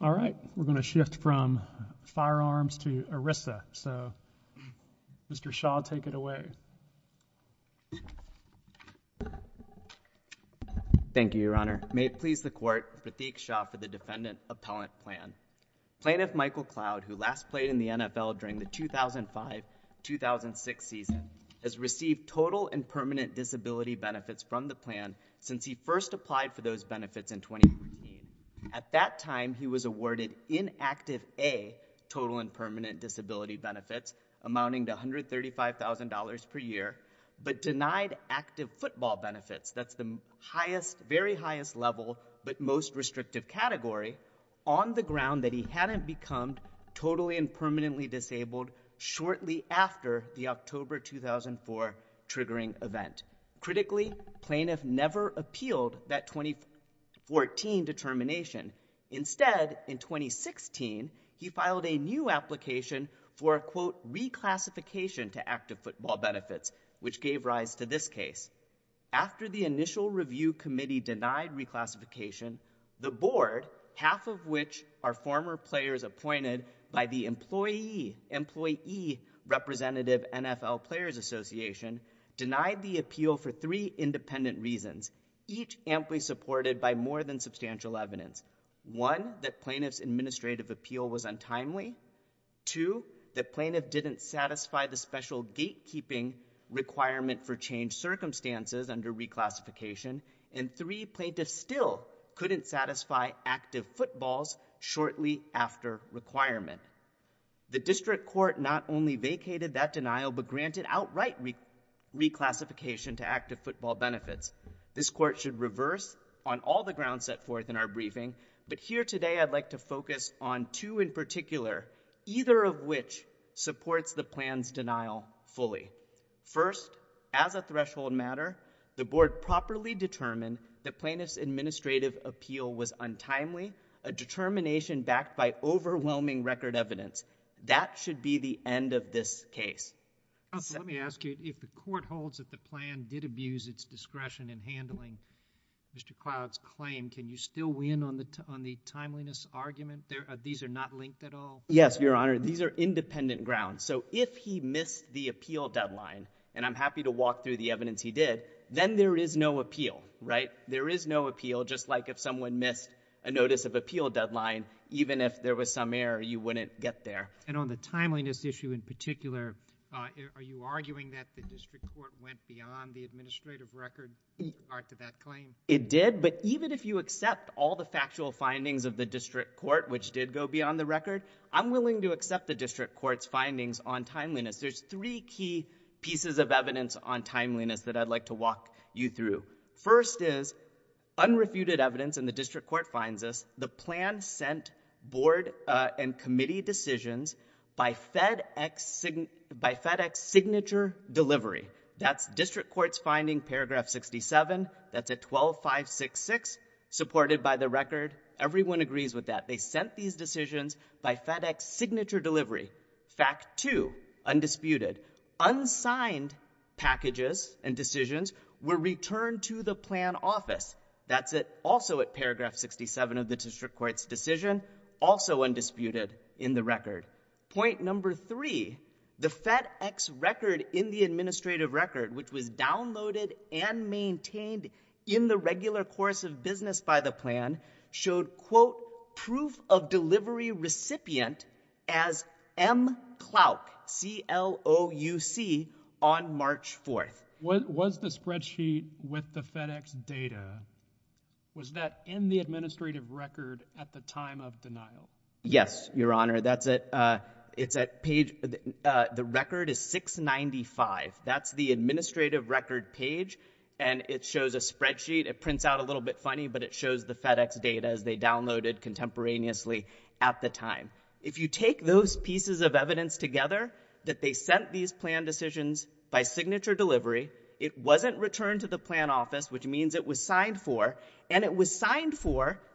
All right, we're going to shift from firearms to ERISA, so Mr. Shah, take it away. Thank you, Your Honor. May it please the Court, Pratik Shah for the Defendant Appellant Plan. Plaintiff Michael Cloud, who last played in the NFL during the 2005-2006 season, has received total and permanent disability benefits from the plan since he first applied for those benefits in 2014. At that time, he was awarded inactive A, total and permanent disability benefits, amounting to $135,000 per year, but denied active football benefits, that's the highest, very highest level but most restrictive category, on the ground that he hadn't become totally and permanently disabled shortly after the October 2004 triggering event. Critically, plaintiff never appealed that 2014 determination. Instead, in 2016, he filed a new application for a, quote, reclassification to active football benefits, which gave rise to this case. After the initial review committee denied reclassification, the board, half of which are former players appointed by the Employee Representative NFL Players Association, denied the appeal for three independent reasons, each amply supported by more than substantial evidence. One, that plaintiff's administrative appeal was untimely. Two, that plaintiff didn't satisfy the special gatekeeping requirement for changed circumstances under reclassification. And three, plaintiff still couldn't satisfy active footballs shortly after requirement. The district court not only vacated that denial, but granted outright reclassification to active football benefits. This court should reverse on all the grounds set forth in our briefing, but here today I'd like to focus on two in particular, either of which supports the plan's denial fully. First, as a threshold matter, the board properly determined that plaintiff's administrative appeal was untimely, a determination backed by overwhelming record evidence. That should be the end of this case. Let me ask you, if the court holds that the plan did abuse its discretion in handling Mr. Cloud's claim, can you still weigh in on the timeliness argument? These are not linked at all? Yes, Your Honor. These are independent grounds. So if he missed the appeal deadline, and I'm happy to walk through the evidence he did, then there is no appeal, right? There is no appeal, just like if someone missed a notice of appeal deadline, even if there was some error, you wouldn't get there. And on the timeliness issue in particular, are you arguing that the district court went beyond the administrative record to that claim? It did, but even if you accept all the factual findings of the district court, which did go beyond the record, I'm willing to accept the district court's findings on timeliness. There's three key pieces of evidence on timeliness that I'd like to walk you through. First is unrefuted evidence, and the district court finds this, the plan sent board and committee decisions by FedEx signature delivery. That's district court's finding, paragraph 67, that's at 12-566, supported by the record. Everyone agrees with that. They sent these decisions by FedEx signature delivery. Fact two, undisputed, unsigned packages and decisions were returned to the plan office. That's also at paragraph 67 of the district court's decision, also undisputed in the record. Point number three, the FedEx record in the administrative record, which was downloaded and maintained in the regular course of business by the plan, showed, quote, proof of delivery recipient as M. Clouck, C-L-O-U-C, on March 4th. Was the spreadsheet with the FedEx data, was that in the administrative record at the time of denial? Yes, Your Honor, that's at, uh, it's at page, uh, the record is 695. That's the administrative record page, and it shows a spreadsheet, it prints out a little bit funny, but it shows the FedEx data as they downloaded contemporaneously at the time. If you take those pieces of evidence together, that they sent these plan decisions by signature delivery, it wasn't returned to the plan office, which means it was signed for, and it was C-L-O-U-C,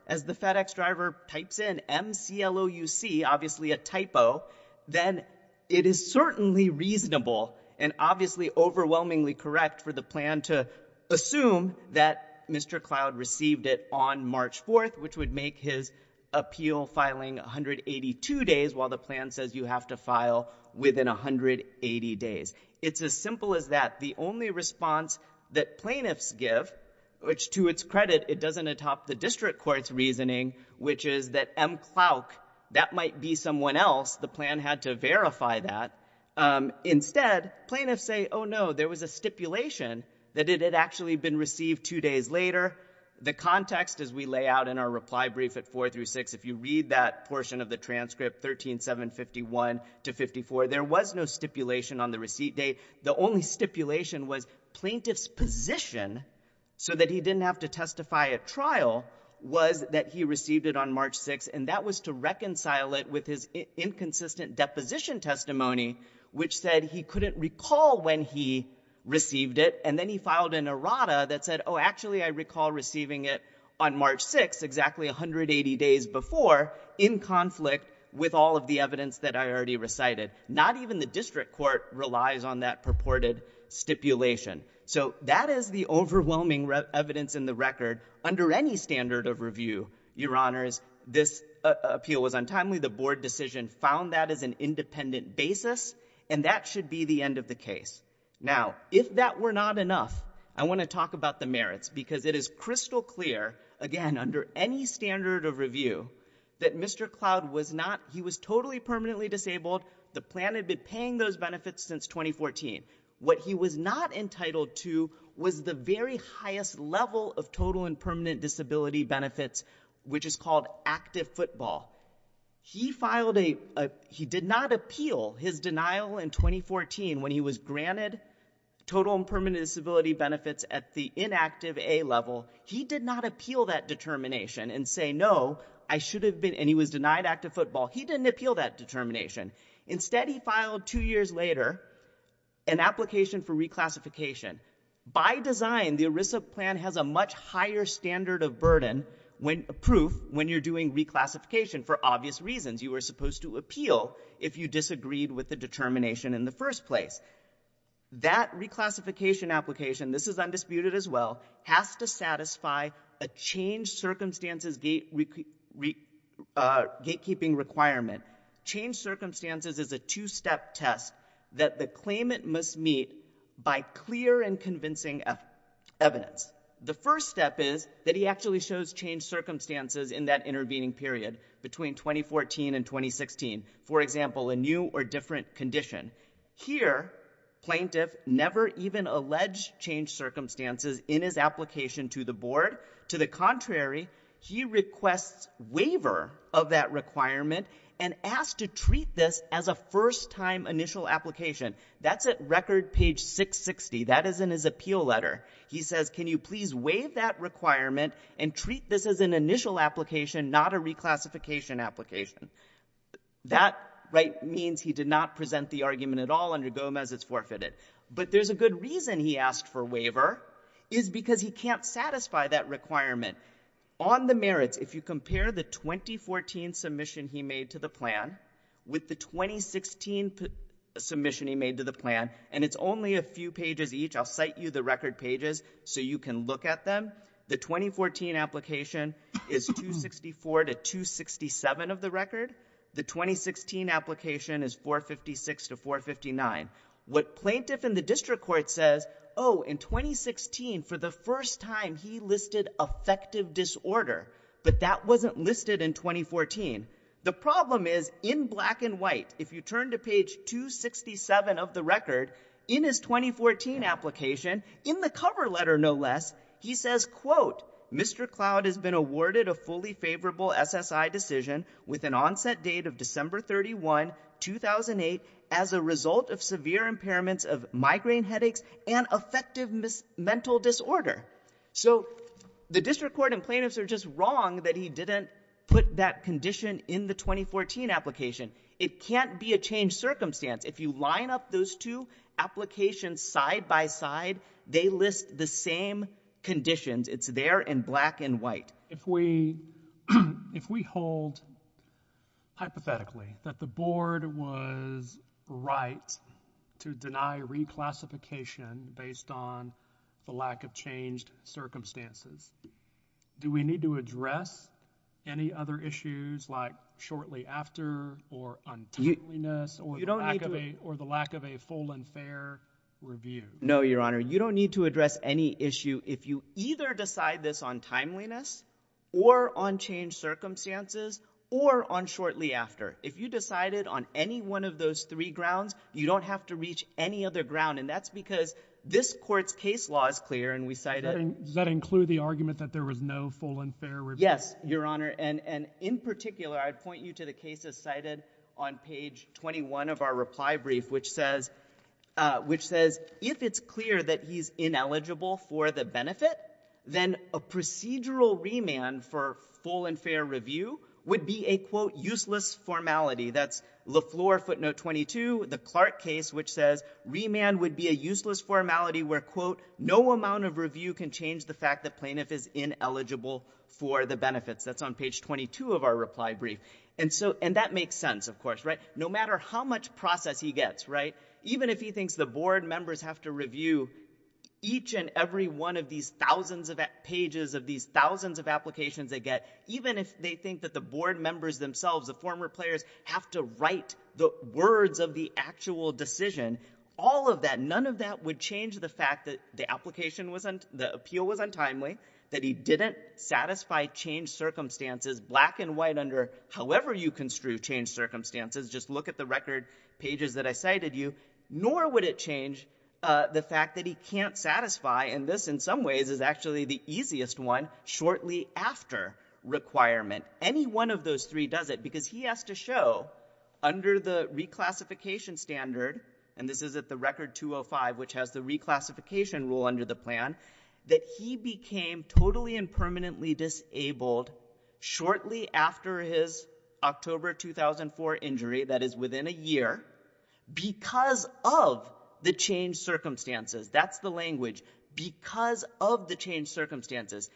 obviously a typo, then it is certainly reasonable, and obviously overwhelmingly correct for the plan to assume that Mr. Cloude received it on March 4th, which would make his appeal filing 182 days, while the plan says you have to file within 180 days. It's as simple as that. The only response that plaintiffs give, which to its credit, it doesn't atop the district court's reasoning, which is that M. Cloude, that might be someone else, the plan had to verify that. Um, instead, plaintiffs say, oh no, there was a stipulation that it had actually been received two days later. The context, as we lay out in our reply brief at 4 through 6, if you read that portion of the transcript, 13-7-51 to 54, there was no stipulation on the receipt date. The only stipulation was plaintiff's position, so that he didn't have to testify at trial, was that he received it on March 6th, and that was to reconcile it with his inconsistent deposition testimony, which said he couldn't recall when he received it, and then he filed an errata that said, oh, actually I recall receiving it on March 6th, exactly 180 days before, in conflict with all of the evidence that I already recited. Not even the district court relies on that purported stipulation. So that is the overwhelming evidence in the record. Under any standard of review, Your Honors, this appeal was untimely. The board decision found that as an independent basis, and that should be the end of the case. Now, if that were not enough, I want to talk about the merits, because it is crystal clear, again, under any standard of review, that Mr. Cloude was not, he was totally permanently disabled, the plan had been paying those benefits since 2014. What he was not entitled to was the very highest level of total and permanent disability benefits, which is called active football. He filed a, he did not appeal his denial in 2014, when he was granted total and permanent disability benefits at the inactive A level. He did not appeal that determination and say, no, I should have been, and he was denied active football. He didn't appeal that determination. Instead, he filed two years later, an application for reclassification. By design, the ERISA plan has a much higher standard of burden, when, proof, when you're doing reclassification, for obvious reasons. You were supposed to appeal if you disagreed with the determination in the first place. That reclassification application, this is undisputed as well, has to satisfy a change circumstances is a two-step test that the claimant must meet by clear and convincing evidence. The first step is that he actually shows change circumstances in that intervening period, between 2014 and 2016. For example, a new or different condition. Here, plaintiff never even alleged change circumstances in his application to the board. To the contrary, he requests waiver of that requirement and asked to treat this as a first-time initial application. That's at record page 660. That is in his appeal letter. He says, can you please waive that requirement and treat this as an initial application, not a reclassification application? That means he did not present the argument at all under Gomez. It's forfeited. But there's a good reason he asked for waiver, is because he can't satisfy that requirement. On the merits, if you compare the 2014 submission he made to the plan with the 2016 submission he made to the plan, and it's only a few pages each. I'll cite you the record pages so you can look at them. The 2014 application is 264 to 267 of the record. The 2016 application is 456 to 459. What plaintiff in the district court says, oh, in 2016, for the first time, he listed affective disorder. But that wasn't listed in 2014. The problem is, in black and white, if you turn to page 267 of the record, in his 2014 application, in the cover letter, no less, he says, quote, Mr. Cloud has been awarded a fully favorable SSI decision with an onset date of December 31, 2008, as a result of severe impairments of migraine headaches and affective mental disorder. So the district court and plaintiffs are just wrong that he didn't put that condition in the 2014 application. It can't be a changed circumstance. If you line up those two applications side by side, they list the same conditions. It's there in black and white. If we hold, hypothetically, that the board was right to deny reclassification based on the lack of changed circumstances, do we need to address any other issues like shortly after or untimeliness or the lack of a full and fair review? No, Your Honor. You don't need to address any issue if you either decide this on timeliness or on changed circumstances or on shortly after. If you decided on any one of those three grounds, you don't have to reach any other ground. And that's because this court's case law is clear, and we cite it. Does that include the argument that there was no full and fair review? Yes, Your Honor. And in particular, I'd point you to the cases cited on page 21 of our reply brief, which says, if it's clear that he's ineligible for the benefit, then a procedural remand for full and fair review would be a, quote, useless formality. That's LeFleur footnote 22, the Clark case, which says remand would be a useless formality where, quote, no amount of review can change the fact that plaintiff is ineligible for the benefits. That's on page 22 of our reply brief. And that makes sense, of course. No matter how much process he gets, even if he thinks the board members have to review each and every one of these thousands of pages of these thousands of applications they get, even if they think that the board members themselves, the former players, have to write the words of the actual decision, all of that, none of that would change the fact that the appeal was untimely, that he didn't satisfy changed circumstances, black and white, under however you construe changed circumstances, just look at the record pages that I cited you, nor would it change the fact that he can't satisfy, and this in some ways is actually the easiest one, shortly after requirement. Any one of those three does it, because he has to show, under the reclassification standard, and this is at the record 205, which has the reclassification rule under the plan, that he became totally and permanently disabled shortly after his October 2004 injury, that is within a year, because of the changed circumstances. That's the language. Because of the changed circumstances.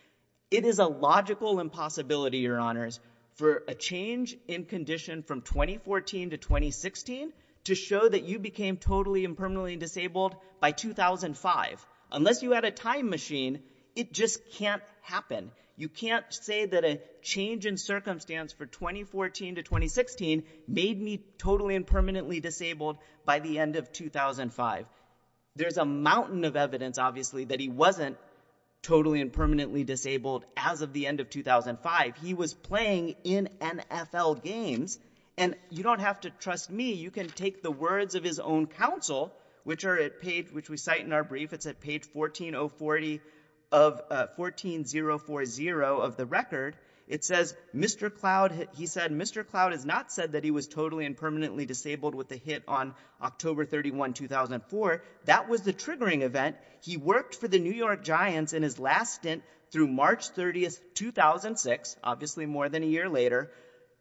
It is a logical impossibility, your honors, for a change in condition from 2014 to 2016 to show that you became totally and permanently disabled by 2005. Unless you had a time machine, it just can't happen. You can't say that a change in circumstance for 2014 to 2016 made me totally and permanently disabled by the end of 2005. There's a mountain of evidence, obviously, that he wasn't totally and permanently disabled as of the end of 2005. He was playing in NFL games, and you don't have to trust me, you can take the words of his own counsel, which we cite in our brief, it's at page 14040 of the record. It says, Mr. Cloud, he said, Mr. Cloud has not said that he was totally and permanently disabled with the hit on October 31, 2004. That was the triggering event. He worked for the New York Giants in his last stint through March 30, 2006, obviously more than a year later.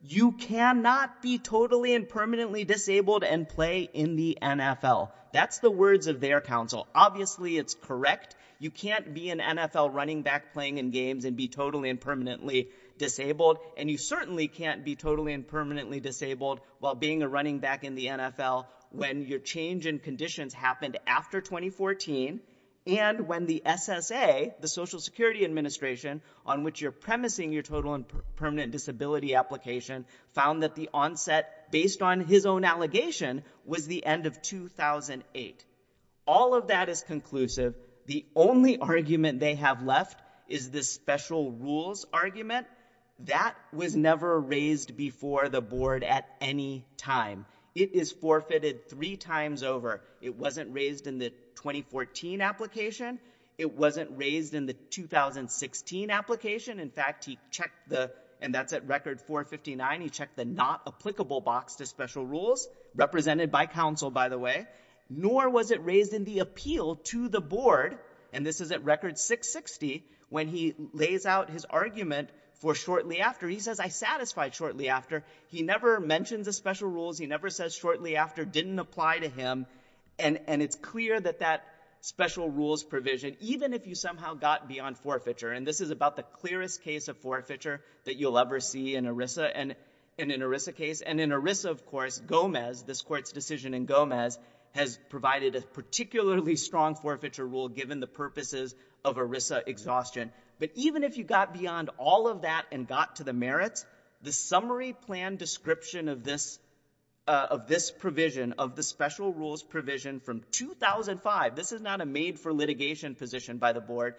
You cannot be totally and permanently disabled and play in the NFL. That's the words of their counsel. Obviously it's correct. You can't be an NFL running back playing in games and be totally and permanently disabled, and you certainly can't be totally and permanently disabled while being a running back in the NFL when your change in conditions happened after 2014, and when the SSA, the Social Security and Disability Application, found that the onset, based on his own allegation, was the end of 2008. All of that is conclusive. The only argument they have left is the special rules argument. That was never raised before the board at any time. It is forfeited three times over. It wasn't raised in the 2014 application. It wasn't raised in the 2016 application. In fact, he checked the, and that's at record 459, he checked the not applicable box to special rules, represented by counsel, by the way, nor was it raised in the appeal to the board, and this is at record 660, when he lays out his argument for shortly after. He says, I satisfied shortly after. He never mentions the special rules. He never says shortly after didn't apply to him. It's clear that that special rules provision, even if you somehow got beyond forfeiture, and this is about the clearest case of forfeiture that you'll ever see in an ERISA case, and in ERISA, of course, Gomez, this court's decision in Gomez, has provided a particularly strong forfeiture rule given the purposes of ERISA exhaustion, but even if you got beyond all of that and got to the merits, the summary plan description of this provision, of the special rules provision from 2005, this is not a made for litigation position by the board.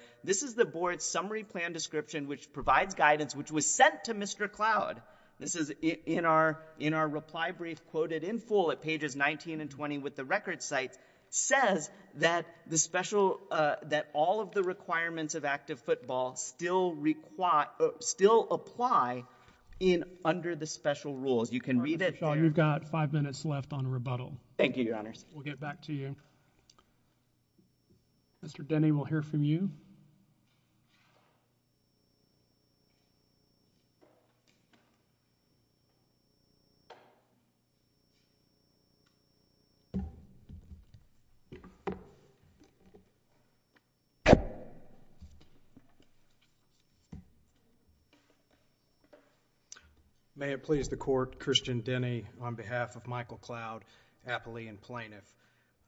Summary plan description, which provides guidance, which was sent to Mr. Cloud. This is in our reply brief quoted in full at pages 19 and 20 with the record sites, says that the special, that all of the requirements of active football still apply under the special You can read it there. Mr. Shaw, you've got five minutes left on rebuttal. Thank you, Your Honors. We'll get back to you. Mr. Denny, we'll hear from you. May it please the court, Christian Denny on behalf of Michael Cloud, appellee and plaintiff.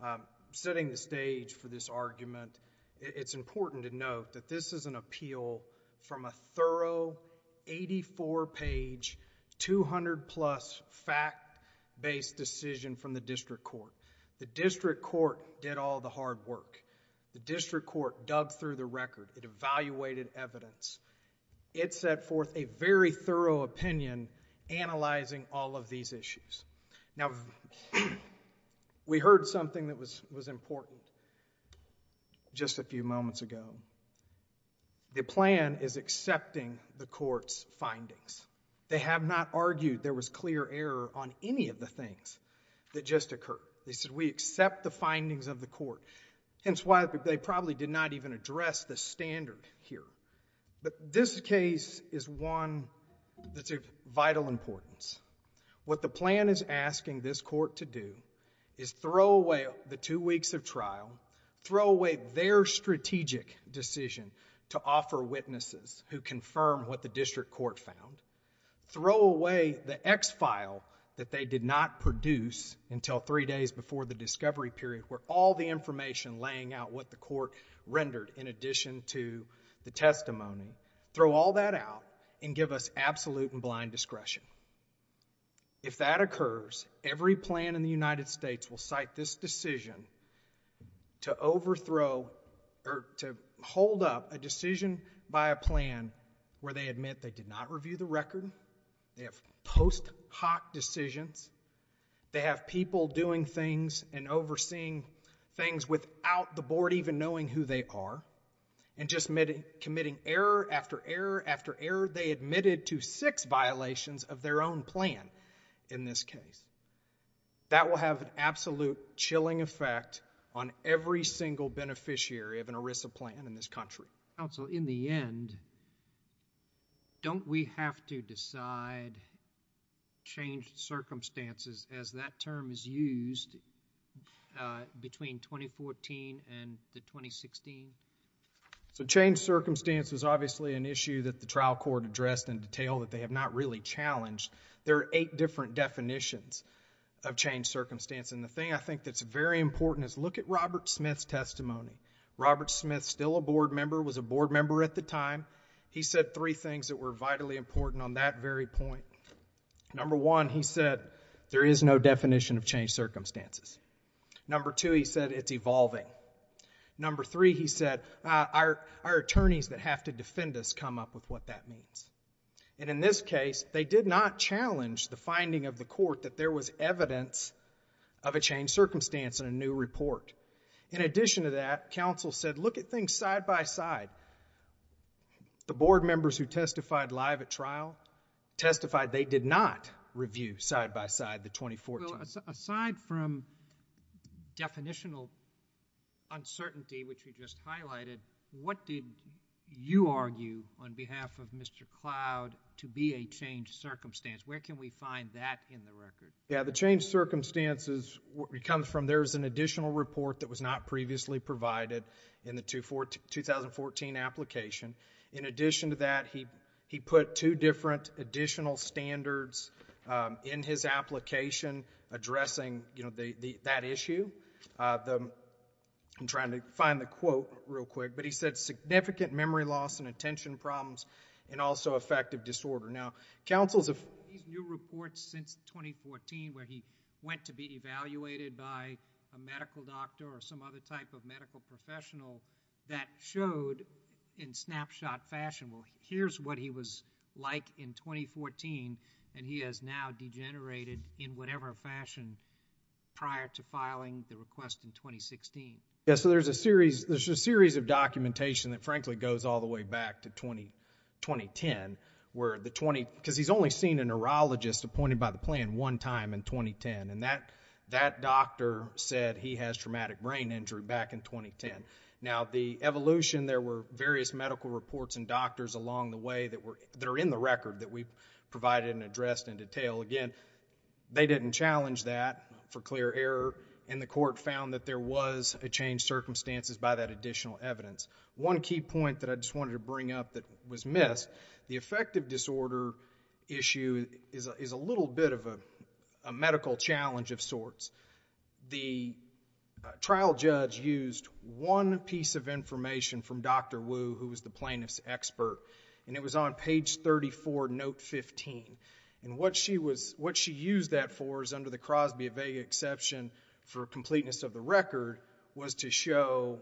I'm setting the stage for this argument. It's important to note that this is an appeal from a thorough 84-page, 200-plus fact-based decision from the district court. The district court did all the hard work. The district court dug through the record. It evaluated evidence. It set forth a very thorough opinion analyzing all of these issues. Now, we heard something that was important just a few moments ago. The plan is accepting the court's findings. They have not argued there was clear error on any of the things that just occurred. They said, we accept the findings of the court, hence why they probably did not even address the standard here. But this case is one that's of vital importance. What the plan is asking this court to do is throw away the two weeks of trial, throw away their strategic decision to offer witnesses who confirm what the district court found, throw away the X-file that they did not produce until three days before the discovery period where all the information laying out what the court rendered in addition to the testimony, throw all that out and give us absolute and blind discretion. If that occurs, every plan in the United States will cite this decision to hold up a decision by a plan where they admit they did not review the record, they have post hoc decisions, they have people doing things and overseeing things without the board even knowing who they are and just committing error after error after error. They admitted to six violations of their own plan in this case. That will have an absolute chilling effect on every single beneficiary of an ERISA plan in this country. Counsel, in the end, don't we have to decide, change circumstances as that term is used between 2014 and the 2016? Change circumstance is obviously an issue that the trial court addressed in detail that they have not really challenged. There are eight different definitions of change circumstance and the thing I think that's very important is look at Robert Smith's testimony. Robert Smith, still a board member, was a board member at the time. He said three things that were vitally important on that very point. Number one, he said, there is no definition of change circumstances. Number two, he said, it's evolving. Number three, he said, our attorneys that have to defend us come up with what that means. In this case, they did not challenge the finding of the court that there was evidence of a change circumstance in a new report. In addition to that, counsel said, look at things side by side. The board members who testified live at trial testified they did not review side by side the 2014. Well, aside from definitional uncertainty, which you just highlighted, what did you argue on behalf of Mr. Cloud to be a change circumstance? Where can we find that in the record? Yeah, the change circumstances comes from there's an additional report that was not previously provided in the 2014 application. In addition to that, he put two different additional standards in his application addressing that issue. I'm trying to find the quote real quick, but he said, significant memory loss and attention problems and also affective disorder. Now, counsel's have these new reports since 2014 where he went to be evaluated by a medical doctor or some other type of medical professional that showed in snapshot fashion, well, here's what he was like in 2014 and he has now degenerated in whatever fashion prior to filing the request in 2016. Yeah, so there's a series of documentation that frankly goes all the way back to 2010 where the 20, because he's only seen a neurologist appointed by the plan one time in 2010. And that doctor said he has traumatic brain injury back in 2010. Now, the evolution, there were various medical reports and doctors along the way that are in the record that we've provided and addressed in detail. Again, they didn't challenge that for clear error and the court found that there was a change circumstances by that additional evidence. One key point that I just wanted to bring up that was missed, the affective disorder issue is a little bit of a medical challenge of sorts. The trial judge used one piece of information from Dr. Wu who was the plaintiff's expert and it was on page 34, note 15 and what she was, what she used that for is under the Crosby Vega exception for completeness of the record was to show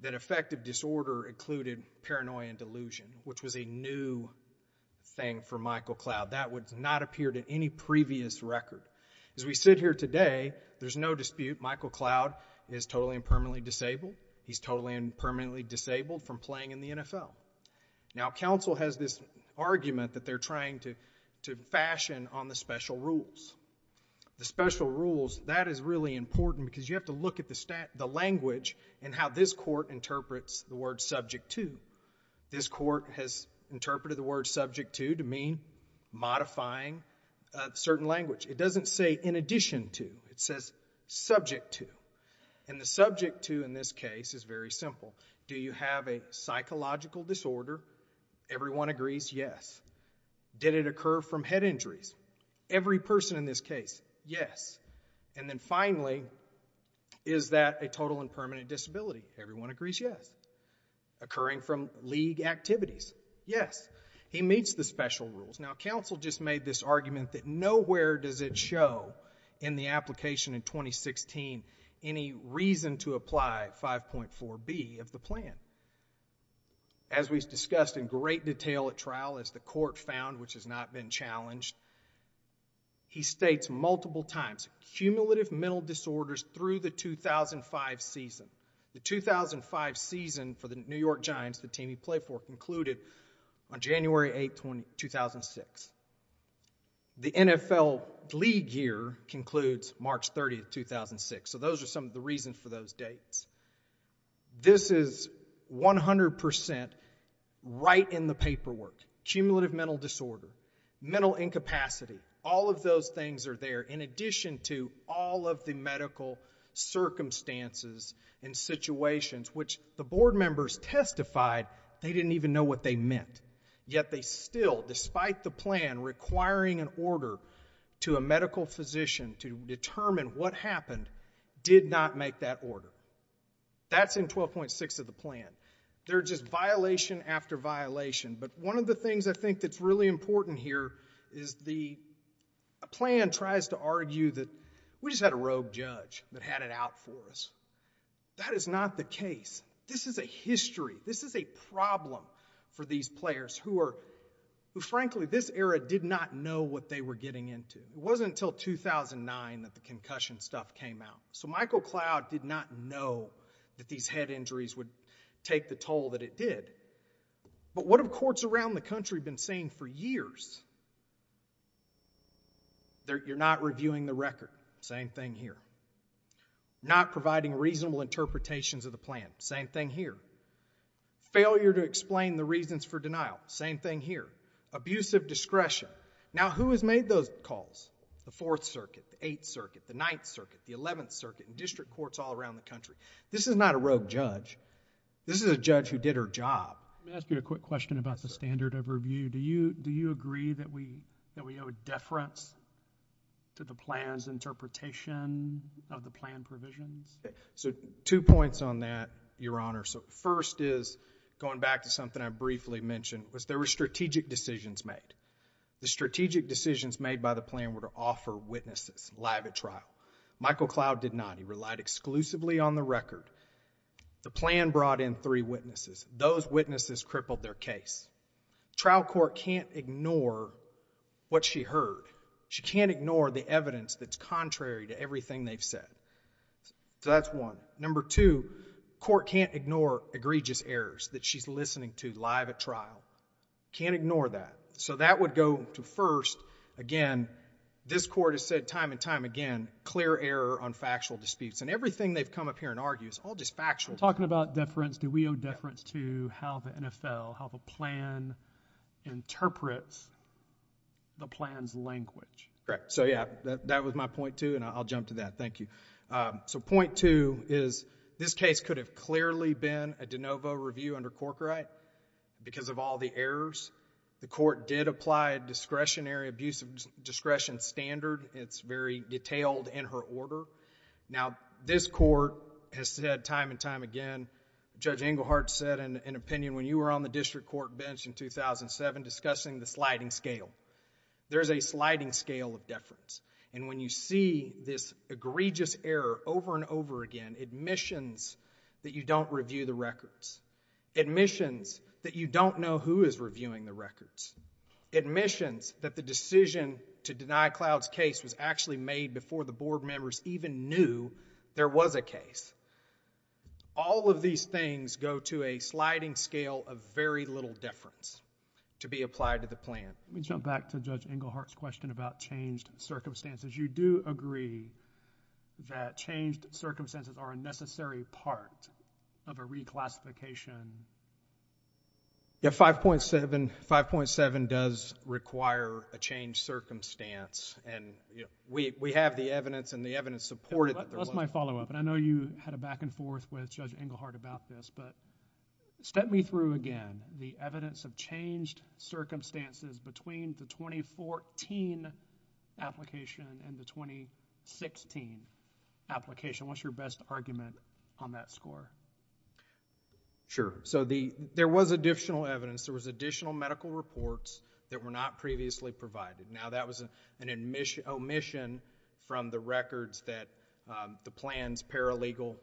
that affective disorder included paranoia and delusion, which was a new thing for Michael Cloud. That would not appear to any previous record. As we sit here today, there's no dispute, Michael Cloud is totally and permanently disabled. He's totally and permanently disabled from playing in the NFL. Now counsel has this argument that they're trying to fashion on the special rules. The special rules, that is really important because you have to look at the language and how this court interprets the word subject to. This court has interpreted the word subject to to mean modifying certain language. It doesn't say in addition to, it says subject to and the subject to in this case is very simple. Do you have a psychological disorder? Everyone agrees yes. Did it occur from head injuries? Every person in this case, yes. And then finally, is that a total and permanent disability? Everyone agrees yes. Occurring from league activities, yes. He meets the special rules. Now counsel just made this argument that nowhere does it show in the application in 2016 any reason to apply 5.4B of the plan. As we've discussed in great detail at trial, as the court found, which has not been challenged, he states multiple times, cumulative mental disorders through the 2005 season. The 2005 season for the New York Giants, the team he played for, concluded on January 8, 2006. The NFL league year concludes March 30, 2006. So those are some of the reasons for those dates. This is 100% right in the paperwork. Cumulative mental disorder, mental incapacity, all of those things are there in addition to all of the medical circumstances and situations, which the board members testified they didn't even know what they meant, yet they still, despite the plan requiring an order to a medical physician to determine what happened, did not make that order. That's in 12.6 of the plan. They're just violation after violation. But one of the things I think that's really important here is the plan tries to argue that we just had a rogue judge that had it out for us. That is not the case. This is a history. This is a problem for these players who are, frankly, this era did not know what they were getting into. It wasn't until 2009 that the concussion stuff came out. So Michael Cloud did not know that these head injuries would take the toll that it did. But what have courts around the country been saying for years? You're not reviewing the record. Same thing here. Not providing reasonable interpretations of the plan. Same thing here. Failure to explain the reasons for denial. Same thing here. Abusive discretion. Now, who has made those calls? The Fourth Circuit, the Eighth Circuit, the Ninth Circuit, the Eleventh Circuit, and district courts all around the country. This is not a rogue judge. This is a judge who did her job. Let me ask you a quick question about the standard of review. Do you agree that we owe deference to the plan's interpretation of the plan provisions? So two points on that, Your Honor. So first is, going back to something I briefly mentioned, was there were strategic decisions made. The strategic decisions made by the plan were to offer witnesses live at trial. Michael Cloud did not. He relied exclusively on the record. The plan brought in three witnesses. Those witnesses crippled their case. Trial court can't ignore what she heard. She can't ignore the evidence that's contrary to everything they've said. So that's one. Number two, court can't ignore egregious errors that she's listening to live at trial. Can't ignore that. So that would go to first, again, this court has said time and time again, clear error on factual disputes. And everything they've come up here and argued is all just factual. Talking about deference, do we owe deference to how the NFL, how the plan interprets the plan's language? Correct. So yeah, that was my point two, and I'll jump to that. Thank you. So point two is, this case could have clearly been a de novo review under Corkerite. Because of all the errors, the court did apply a discretionary abuse of discretion standard. It's very detailed in her order. Now this court has said time and time again, Judge Englehart said in an opinion when you were on the district court bench in 2007 discussing the sliding scale. There's a sliding scale of deference. And when you see this egregious error over and over again, admissions that you don't know who is reviewing the records, admissions that the decision to deny Cloud's case was actually made before the board members even knew there was a case. All of these things go to a sliding scale of very little deference to be applied to the plan. Let me jump back to Judge Englehart's question about changed circumstances. You do agree that changed circumstances are a necessary part of a reclassification? Yeah, 5.7 does require a changed circumstance. And we have the evidence and the evidence supported that there was. That's my follow up. And I know you had a back and forth with Judge Englehart about this. But step me through again the evidence of changed circumstances between the 2014 application and the 2016 application. What's your best argument on that score? Sure. So there was additional evidence. There was additional medical reports that were not previously provided. Now that was an omission from the records that the plans paralegal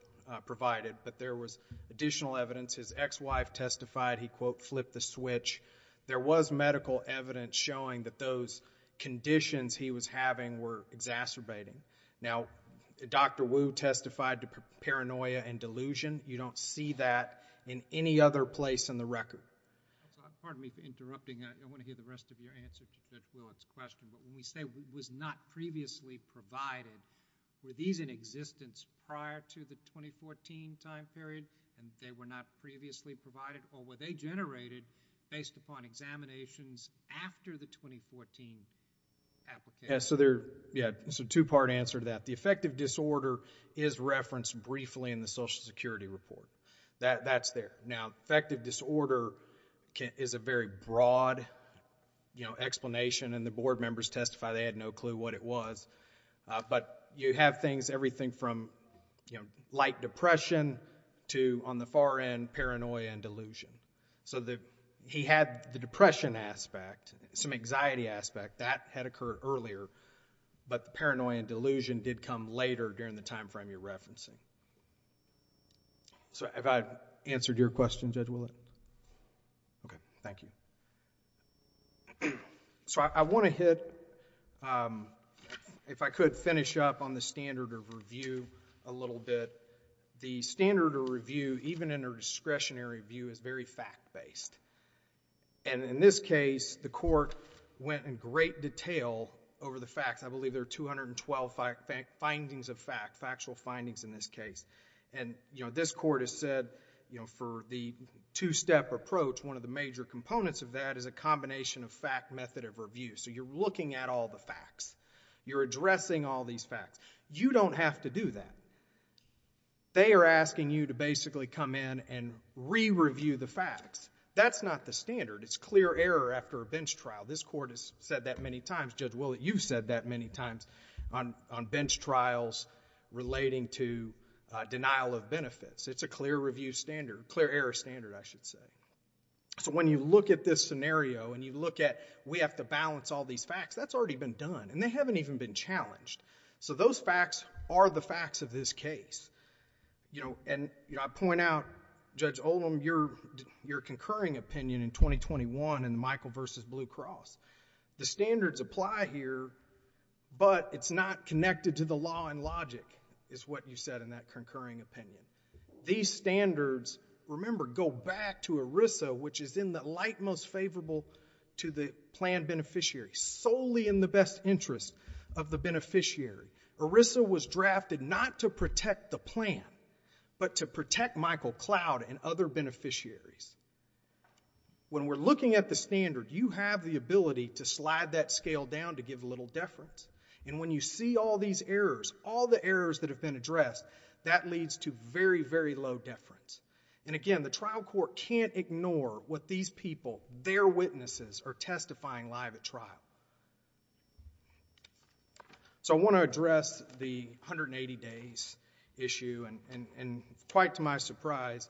provided. But there was additional evidence. His ex-wife testified he, quote, flipped the switch. There was medical evidence showing that those conditions he was having were exacerbating. Now Dr. Wu testified to paranoia and delusion. You don't see that in any other place in the record. Pardon me for interrupting. I want to hear the rest of your answer to Judge Willard's question. But when we say was not previously provided, were these in existence prior to the 2014 time period and they were not previously provided or were they generated based upon examinations after the 2014 application? So there, yeah, it's a two-part answer to that. The affective disorder is referenced briefly in the Social Security report. That's there. Now affective disorder is a very broad explanation and the board members testify they had no clue what it was. But you have things, everything from light depression to, on the far end, paranoia and delusion. So he had the depression aspect, some anxiety aspect. That had occurred earlier. But the paranoia and delusion did come later during the time frame you're referencing. So have I answered your question, Judge Willard? Okay, thank you. So I want to hit, if I could, finish up on the standard of review a little bit. The standard of review, even in a discretionary view, is very fact-based. And in this case, the court went in great detail over the facts. I believe there are 212 findings of fact, factual findings in this case. And this court has said, for the two-step approach, one of the major components of that is a combination of fact, method of review. So you're looking at all the facts. You're addressing all these facts. You don't have to do that. They are asking you to basically come in and re-review the facts. That's not the standard. It's clear error after a bench trial. This court has said that many times. Judge Willard, you've said that many times on bench trials relating to denial of benefits. It's a clear review standard, clear error standard, I should say. So when you look at this scenario and you look at, we have to balance all these facts, that's already been done. And they haven't even been challenged. So those facts are the facts of this case. And I point out, Judge Oldham, your concurring opinion in 2021 in Michael v. Blue Cross, the standards apply here, but it's not connected to the law and logic, is what you said in that concurring opinion. These standards, remember, go back to ERISA, which is in the light most favorable to the plan beneficiary, solely in the best interest of the beneficiary. ERISA was drafted not to protect the plan, but to protect Michael Cloud and other beneficiaries. When we're looking at the standard, you have the ability to slide that scale down to give a little deference. And when you see all these errors, all the errors that have been addressed, that leads to very, very low deference. And again, the trial court can't ignore what these people, their witnesses, are testifying live at trial. So I want to address the 180 days issue. And quite to my surprise,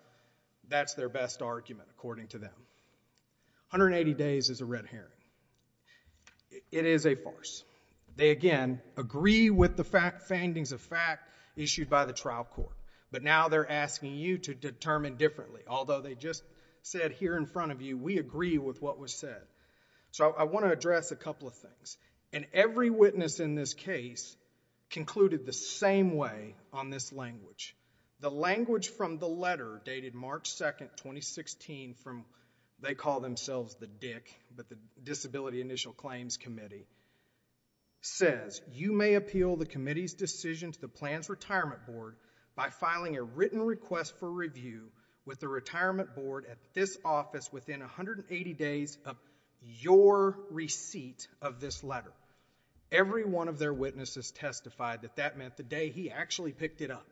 that's their best argument, according to them. 180 days is a red herring. It is a farce. They, again, agree with the findings of fact issued by the trial court. But now they're asking you to determine differently, although they just said here in front of you, we agree with what was said. So I want to address a couple of things. And every witness in this case concluded the same way on this language. The language from the letter, dated March 2, 2016, from, they call themselves the DIC, but the Disability Initial Claims Committee, says, you may appeal the committee's decision to the Plans Retirement Board by filing a written request for review with the Retirement Board at this office within 180 days of your receipt of this letter. Every one of their witnesses testified that that meant the day he actually picked it up.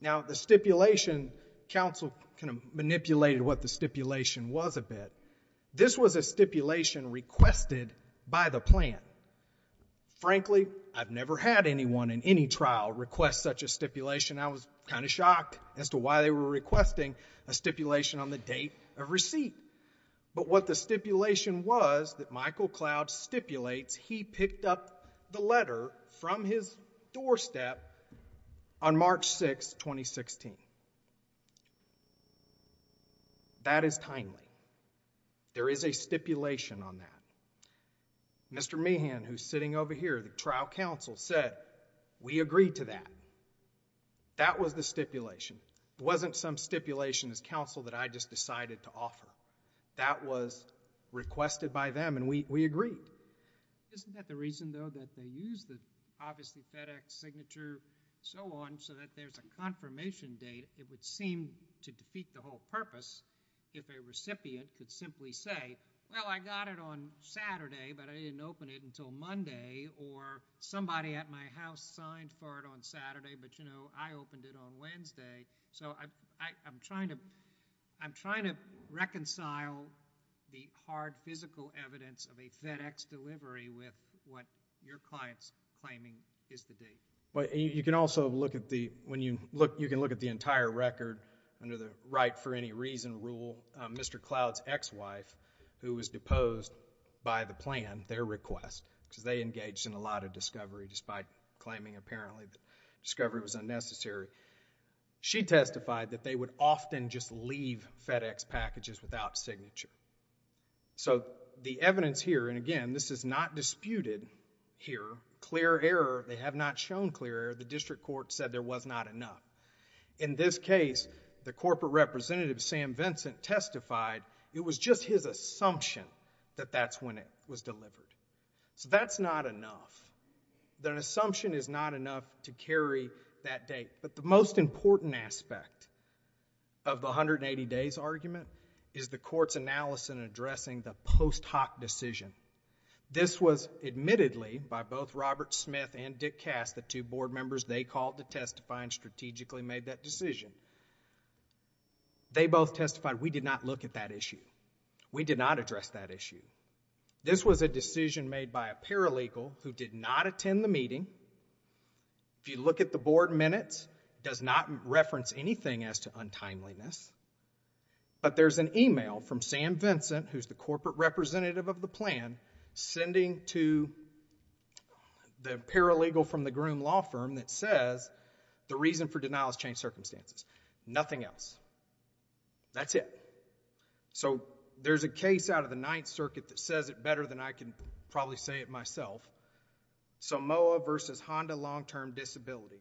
Now the stipulation, counsel kind of manipulated what the stipulation was a bit. This was a stipulation requested by the plan. Frankly, I've never had anyone in any trial request such a stipulation. I was kind of shocked as to why they were requesting a stipulation on the date of receipt. But what the stipulation was that Michael Cloud stipulates, he picked up the letter from his doorstep on March 6, 2016. That is timely. There is a stipulation on that. Mr. Meehan, who's sitting over here, the trial counsel, said, we agree to that. That was the stipulation. There wasn't some stipulation as counsel that I just decided to offer. That was requested by them, and we agreed. Isn't that the reason, though, that they used the, obviously, FedEx signature, so on, so that there's a confirmation date, it would seem to defeat the whole purpose if a recipient could simply say, well, I got it on Saturday, but I didn't open it until Monday, or somebody at my house signed for it on Saturday, but, you know, I opened it on Wednesday. So I'm trying to reconcile the hard physical evidence of a FedEx delivery with what your client's claiming is the date. You can also look at the, when you look, you can look at the entire record under the right for any reason rule. Mr. Cloud's ex-wife, who was deposed by the plan, their request, because they engaged in a lot of discovery, despite claiming, apparently, that discovery was unnecessary. She testified that they would often just leave FedEx packages without signature. So the evidence here, and again, this is not disputed here. Clear error. They have not shown clear error. The district court said there was not enough. In this case, the corporate representative, Sam Vincent, testified it was just his assumption that that's when it was delivered. So that's not enough. That assumption is not enough to carry that date. But the most important aspect of the 180 days argument is the court's analysis in addressing the post hoc decision. This was admittedly by both Robert Smith and Dick Cass, the two board members they called to testify and strategically made that decision. They both testified we did not look at that issue. We did not address that issue. This was a decision made by a paralegal who did not attend the meeting. If you look at the board minutes, does not reference anything as to untimeliness. But there's an email from Sam Vincent, who's the corporate representative of the plan, sending to the paralegal from the groom law firm that says the reason for denial is changed circumstances. Nothing else. That's it. So there's a case out of the Ninth Circuit that says it better than I can probably say it myself. Samoa versus Honda long-term disability.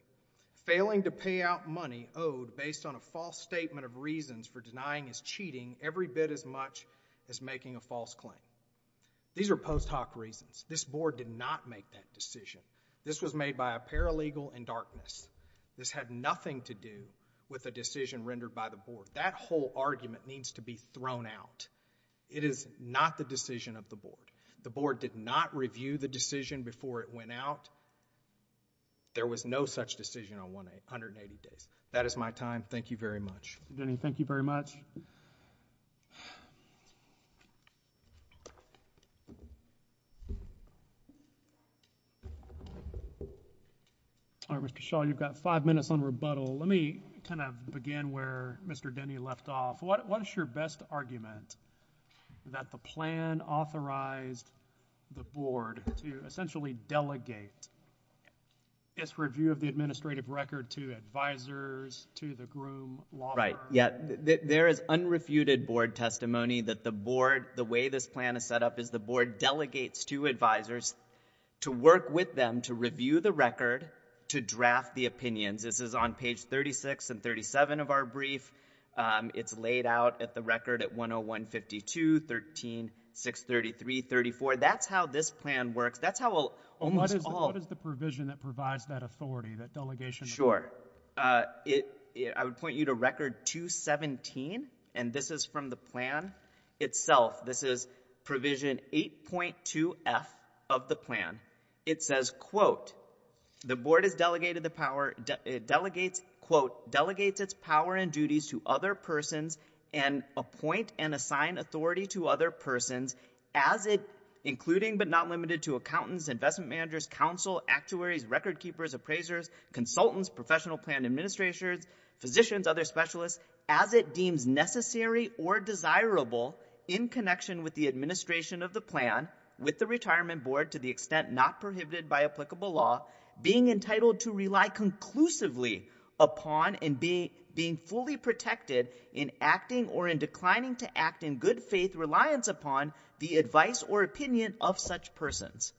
Failing to pay out money owed based on a false statement of reasons for denying as cheating every bit as much as making a false claim. These are post hoc reasons. This board did not make that decision. This was made by a paralegal in darkness. This had nothing to do with a decision rendered by the board. That whole argument needs to be thrown out. It is not the decision of the board. The board did not review the decision before it went out. There was no such decision on 180 days. That is my time. Thank you very much. Mr. Denny, thank you very much. All right, Mr. Shaw, you've got five minutes on rebuttal. Let me kind of begin where Mr. Denny left off. What's your best argument that the plan authorized the board to essentially delegate its review of the administrative record to advisors, to the groom, law? There is unrefuted board testimony that the way this plan is set up is the board delegates to advisors to work with them to review the record, to draft the opinions. This is on page 36 and 37 of our brief. It's laid out at the record at 101, 52, 13, 633, 34. That's how this plan works. What is the provision that provides that authority, that delegation? Sure. I would point you to record 217, and this is from the plan itself. This is provision 8.2f of the plan. It says, quote, the board has delegated the power, quote, delegates its power and duties to other persons and appoint and assign authority to other persons as it, including but not limited to accountants, investment managers, counsel, actuaries, record keepers, appraisers, consultants, professional plan administrators, physicians, other specialists, as it deems necessary or desirable in connection with the administration of the plan with the retirement board to the extent not prohibited by applicable law, being entitled to rely conclusively upon and being fully protected in acting or in declining to act in good faith reliance upon the advice or opinion of such persons.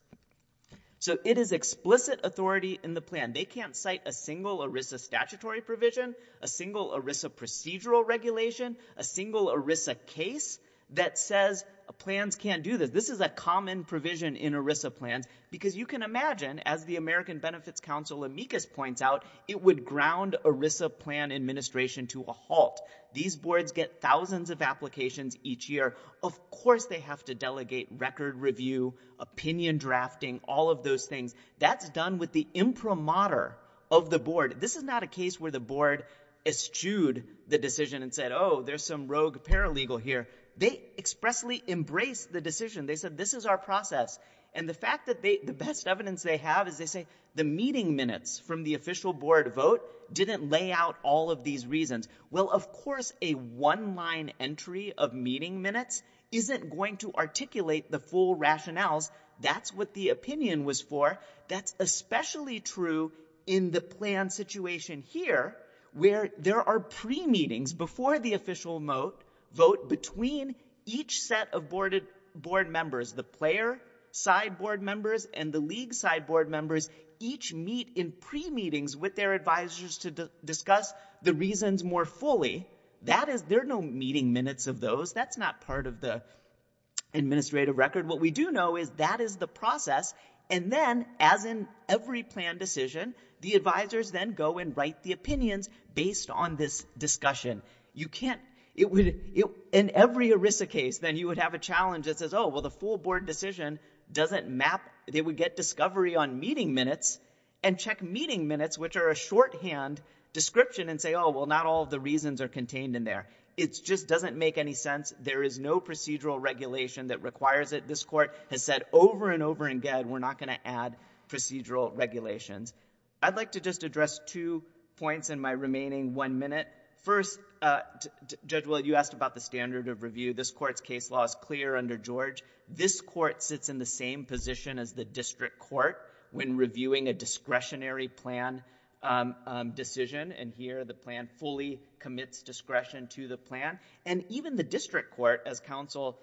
So it is explicit authority in the plan. They can't cite a single ERISA statutory provision, a single ERISA procedural regulation, a single ERISA case that says plans can't do this. This is a common provision in ERISA plans because you can imagine, as the American Benefits Council amicus points out, it would ground ERISA plan administration to a halt. These boards get thousands of applications each year. Of course they have to delegate record review, opinion drafting, all of those things. That's done with the imprimatur of the board. This is not a case where the board eschewed the decision and said, oh, there's some rogue paralegal here. They expressly embraced the decision. They said, this is our process. And the fact that the best evidence they have is they say the meeting minutes from the official board vote didn't lay out all of these reasons. Well, of course a one-line entry of meeting minutes isn't going to articulate the full rationales. That's what the opinion was for. That's especially true in the plan situation here, where there are pre-meetings before the official vote between each set of board members, the player side board members and the league side board members, each meet in pre-meetings with their advisors to discuss the reasons more fully. That is, there are no meeting minutes of those. That's not part of the administrative record. What we do know is that is the process. And then, as in every plan decision, the advisors then go and write the opinions based on this discussion. You can't, it would, in every ERISA case, then you would have a challenge that says, oh, well, the full board decision doesn't map, they would get discovery on meeting minutes and check meeting minutes, which are a shorthand description and say, oh, well, not all of the reasons are contained in there. It just doesn't make any sense. There is no procedural regulation that requires it. This court has said over and over again, we're not going to add procedural regulations. I'd like to just address two points in my remaining one minute. First, Judge Willard, you asked about the standard of review. This court's case law is clear under George. This court sits in the same position as the district court when reviewing a discretionary plan decision. And here, the plan fully commits discretion to the plan. And even the district court, as counsel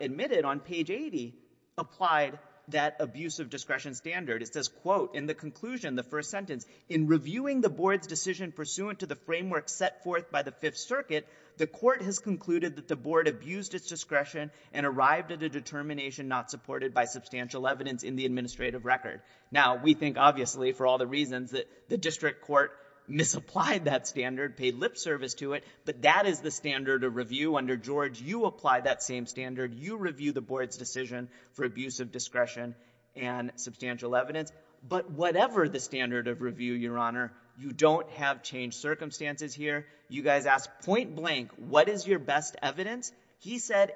admitted on page 80, applied that abuse of discretion standard. It says, quote, in the conclusion, the first sentence, in reviewing the board's decision pursuant to the framework set forth by the Fifth Circuit, the court has concluded that the board abused its discretion and arrived at a determination not supported by substantial evidence in the administrative record. Now, we think, obviously, for all the reasons that the district court misapplied that standard, paid lip service to it, but that is the standard of review under George. You apply that same standard. You review the board's decision for abuse of discretion and substantial evidence. But whatever the standard of review, Your Honor, you don't have changed circumstances here. You guys ask, point blank, what is your best evidence? He said,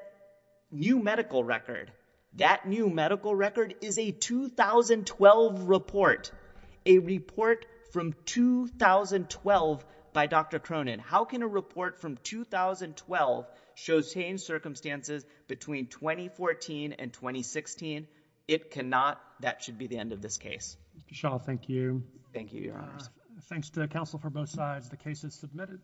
new medical record. That new medical record is a 2012 report, a report from 2012 by Dr. Cronin. How can a report from 2012 show same circumstances between 2014 and 2016? It cannot. That should be the end of this case. Shaw, thank you. Thank you, Your Honor. Thanks to the counsel for both sides. The case is submitted.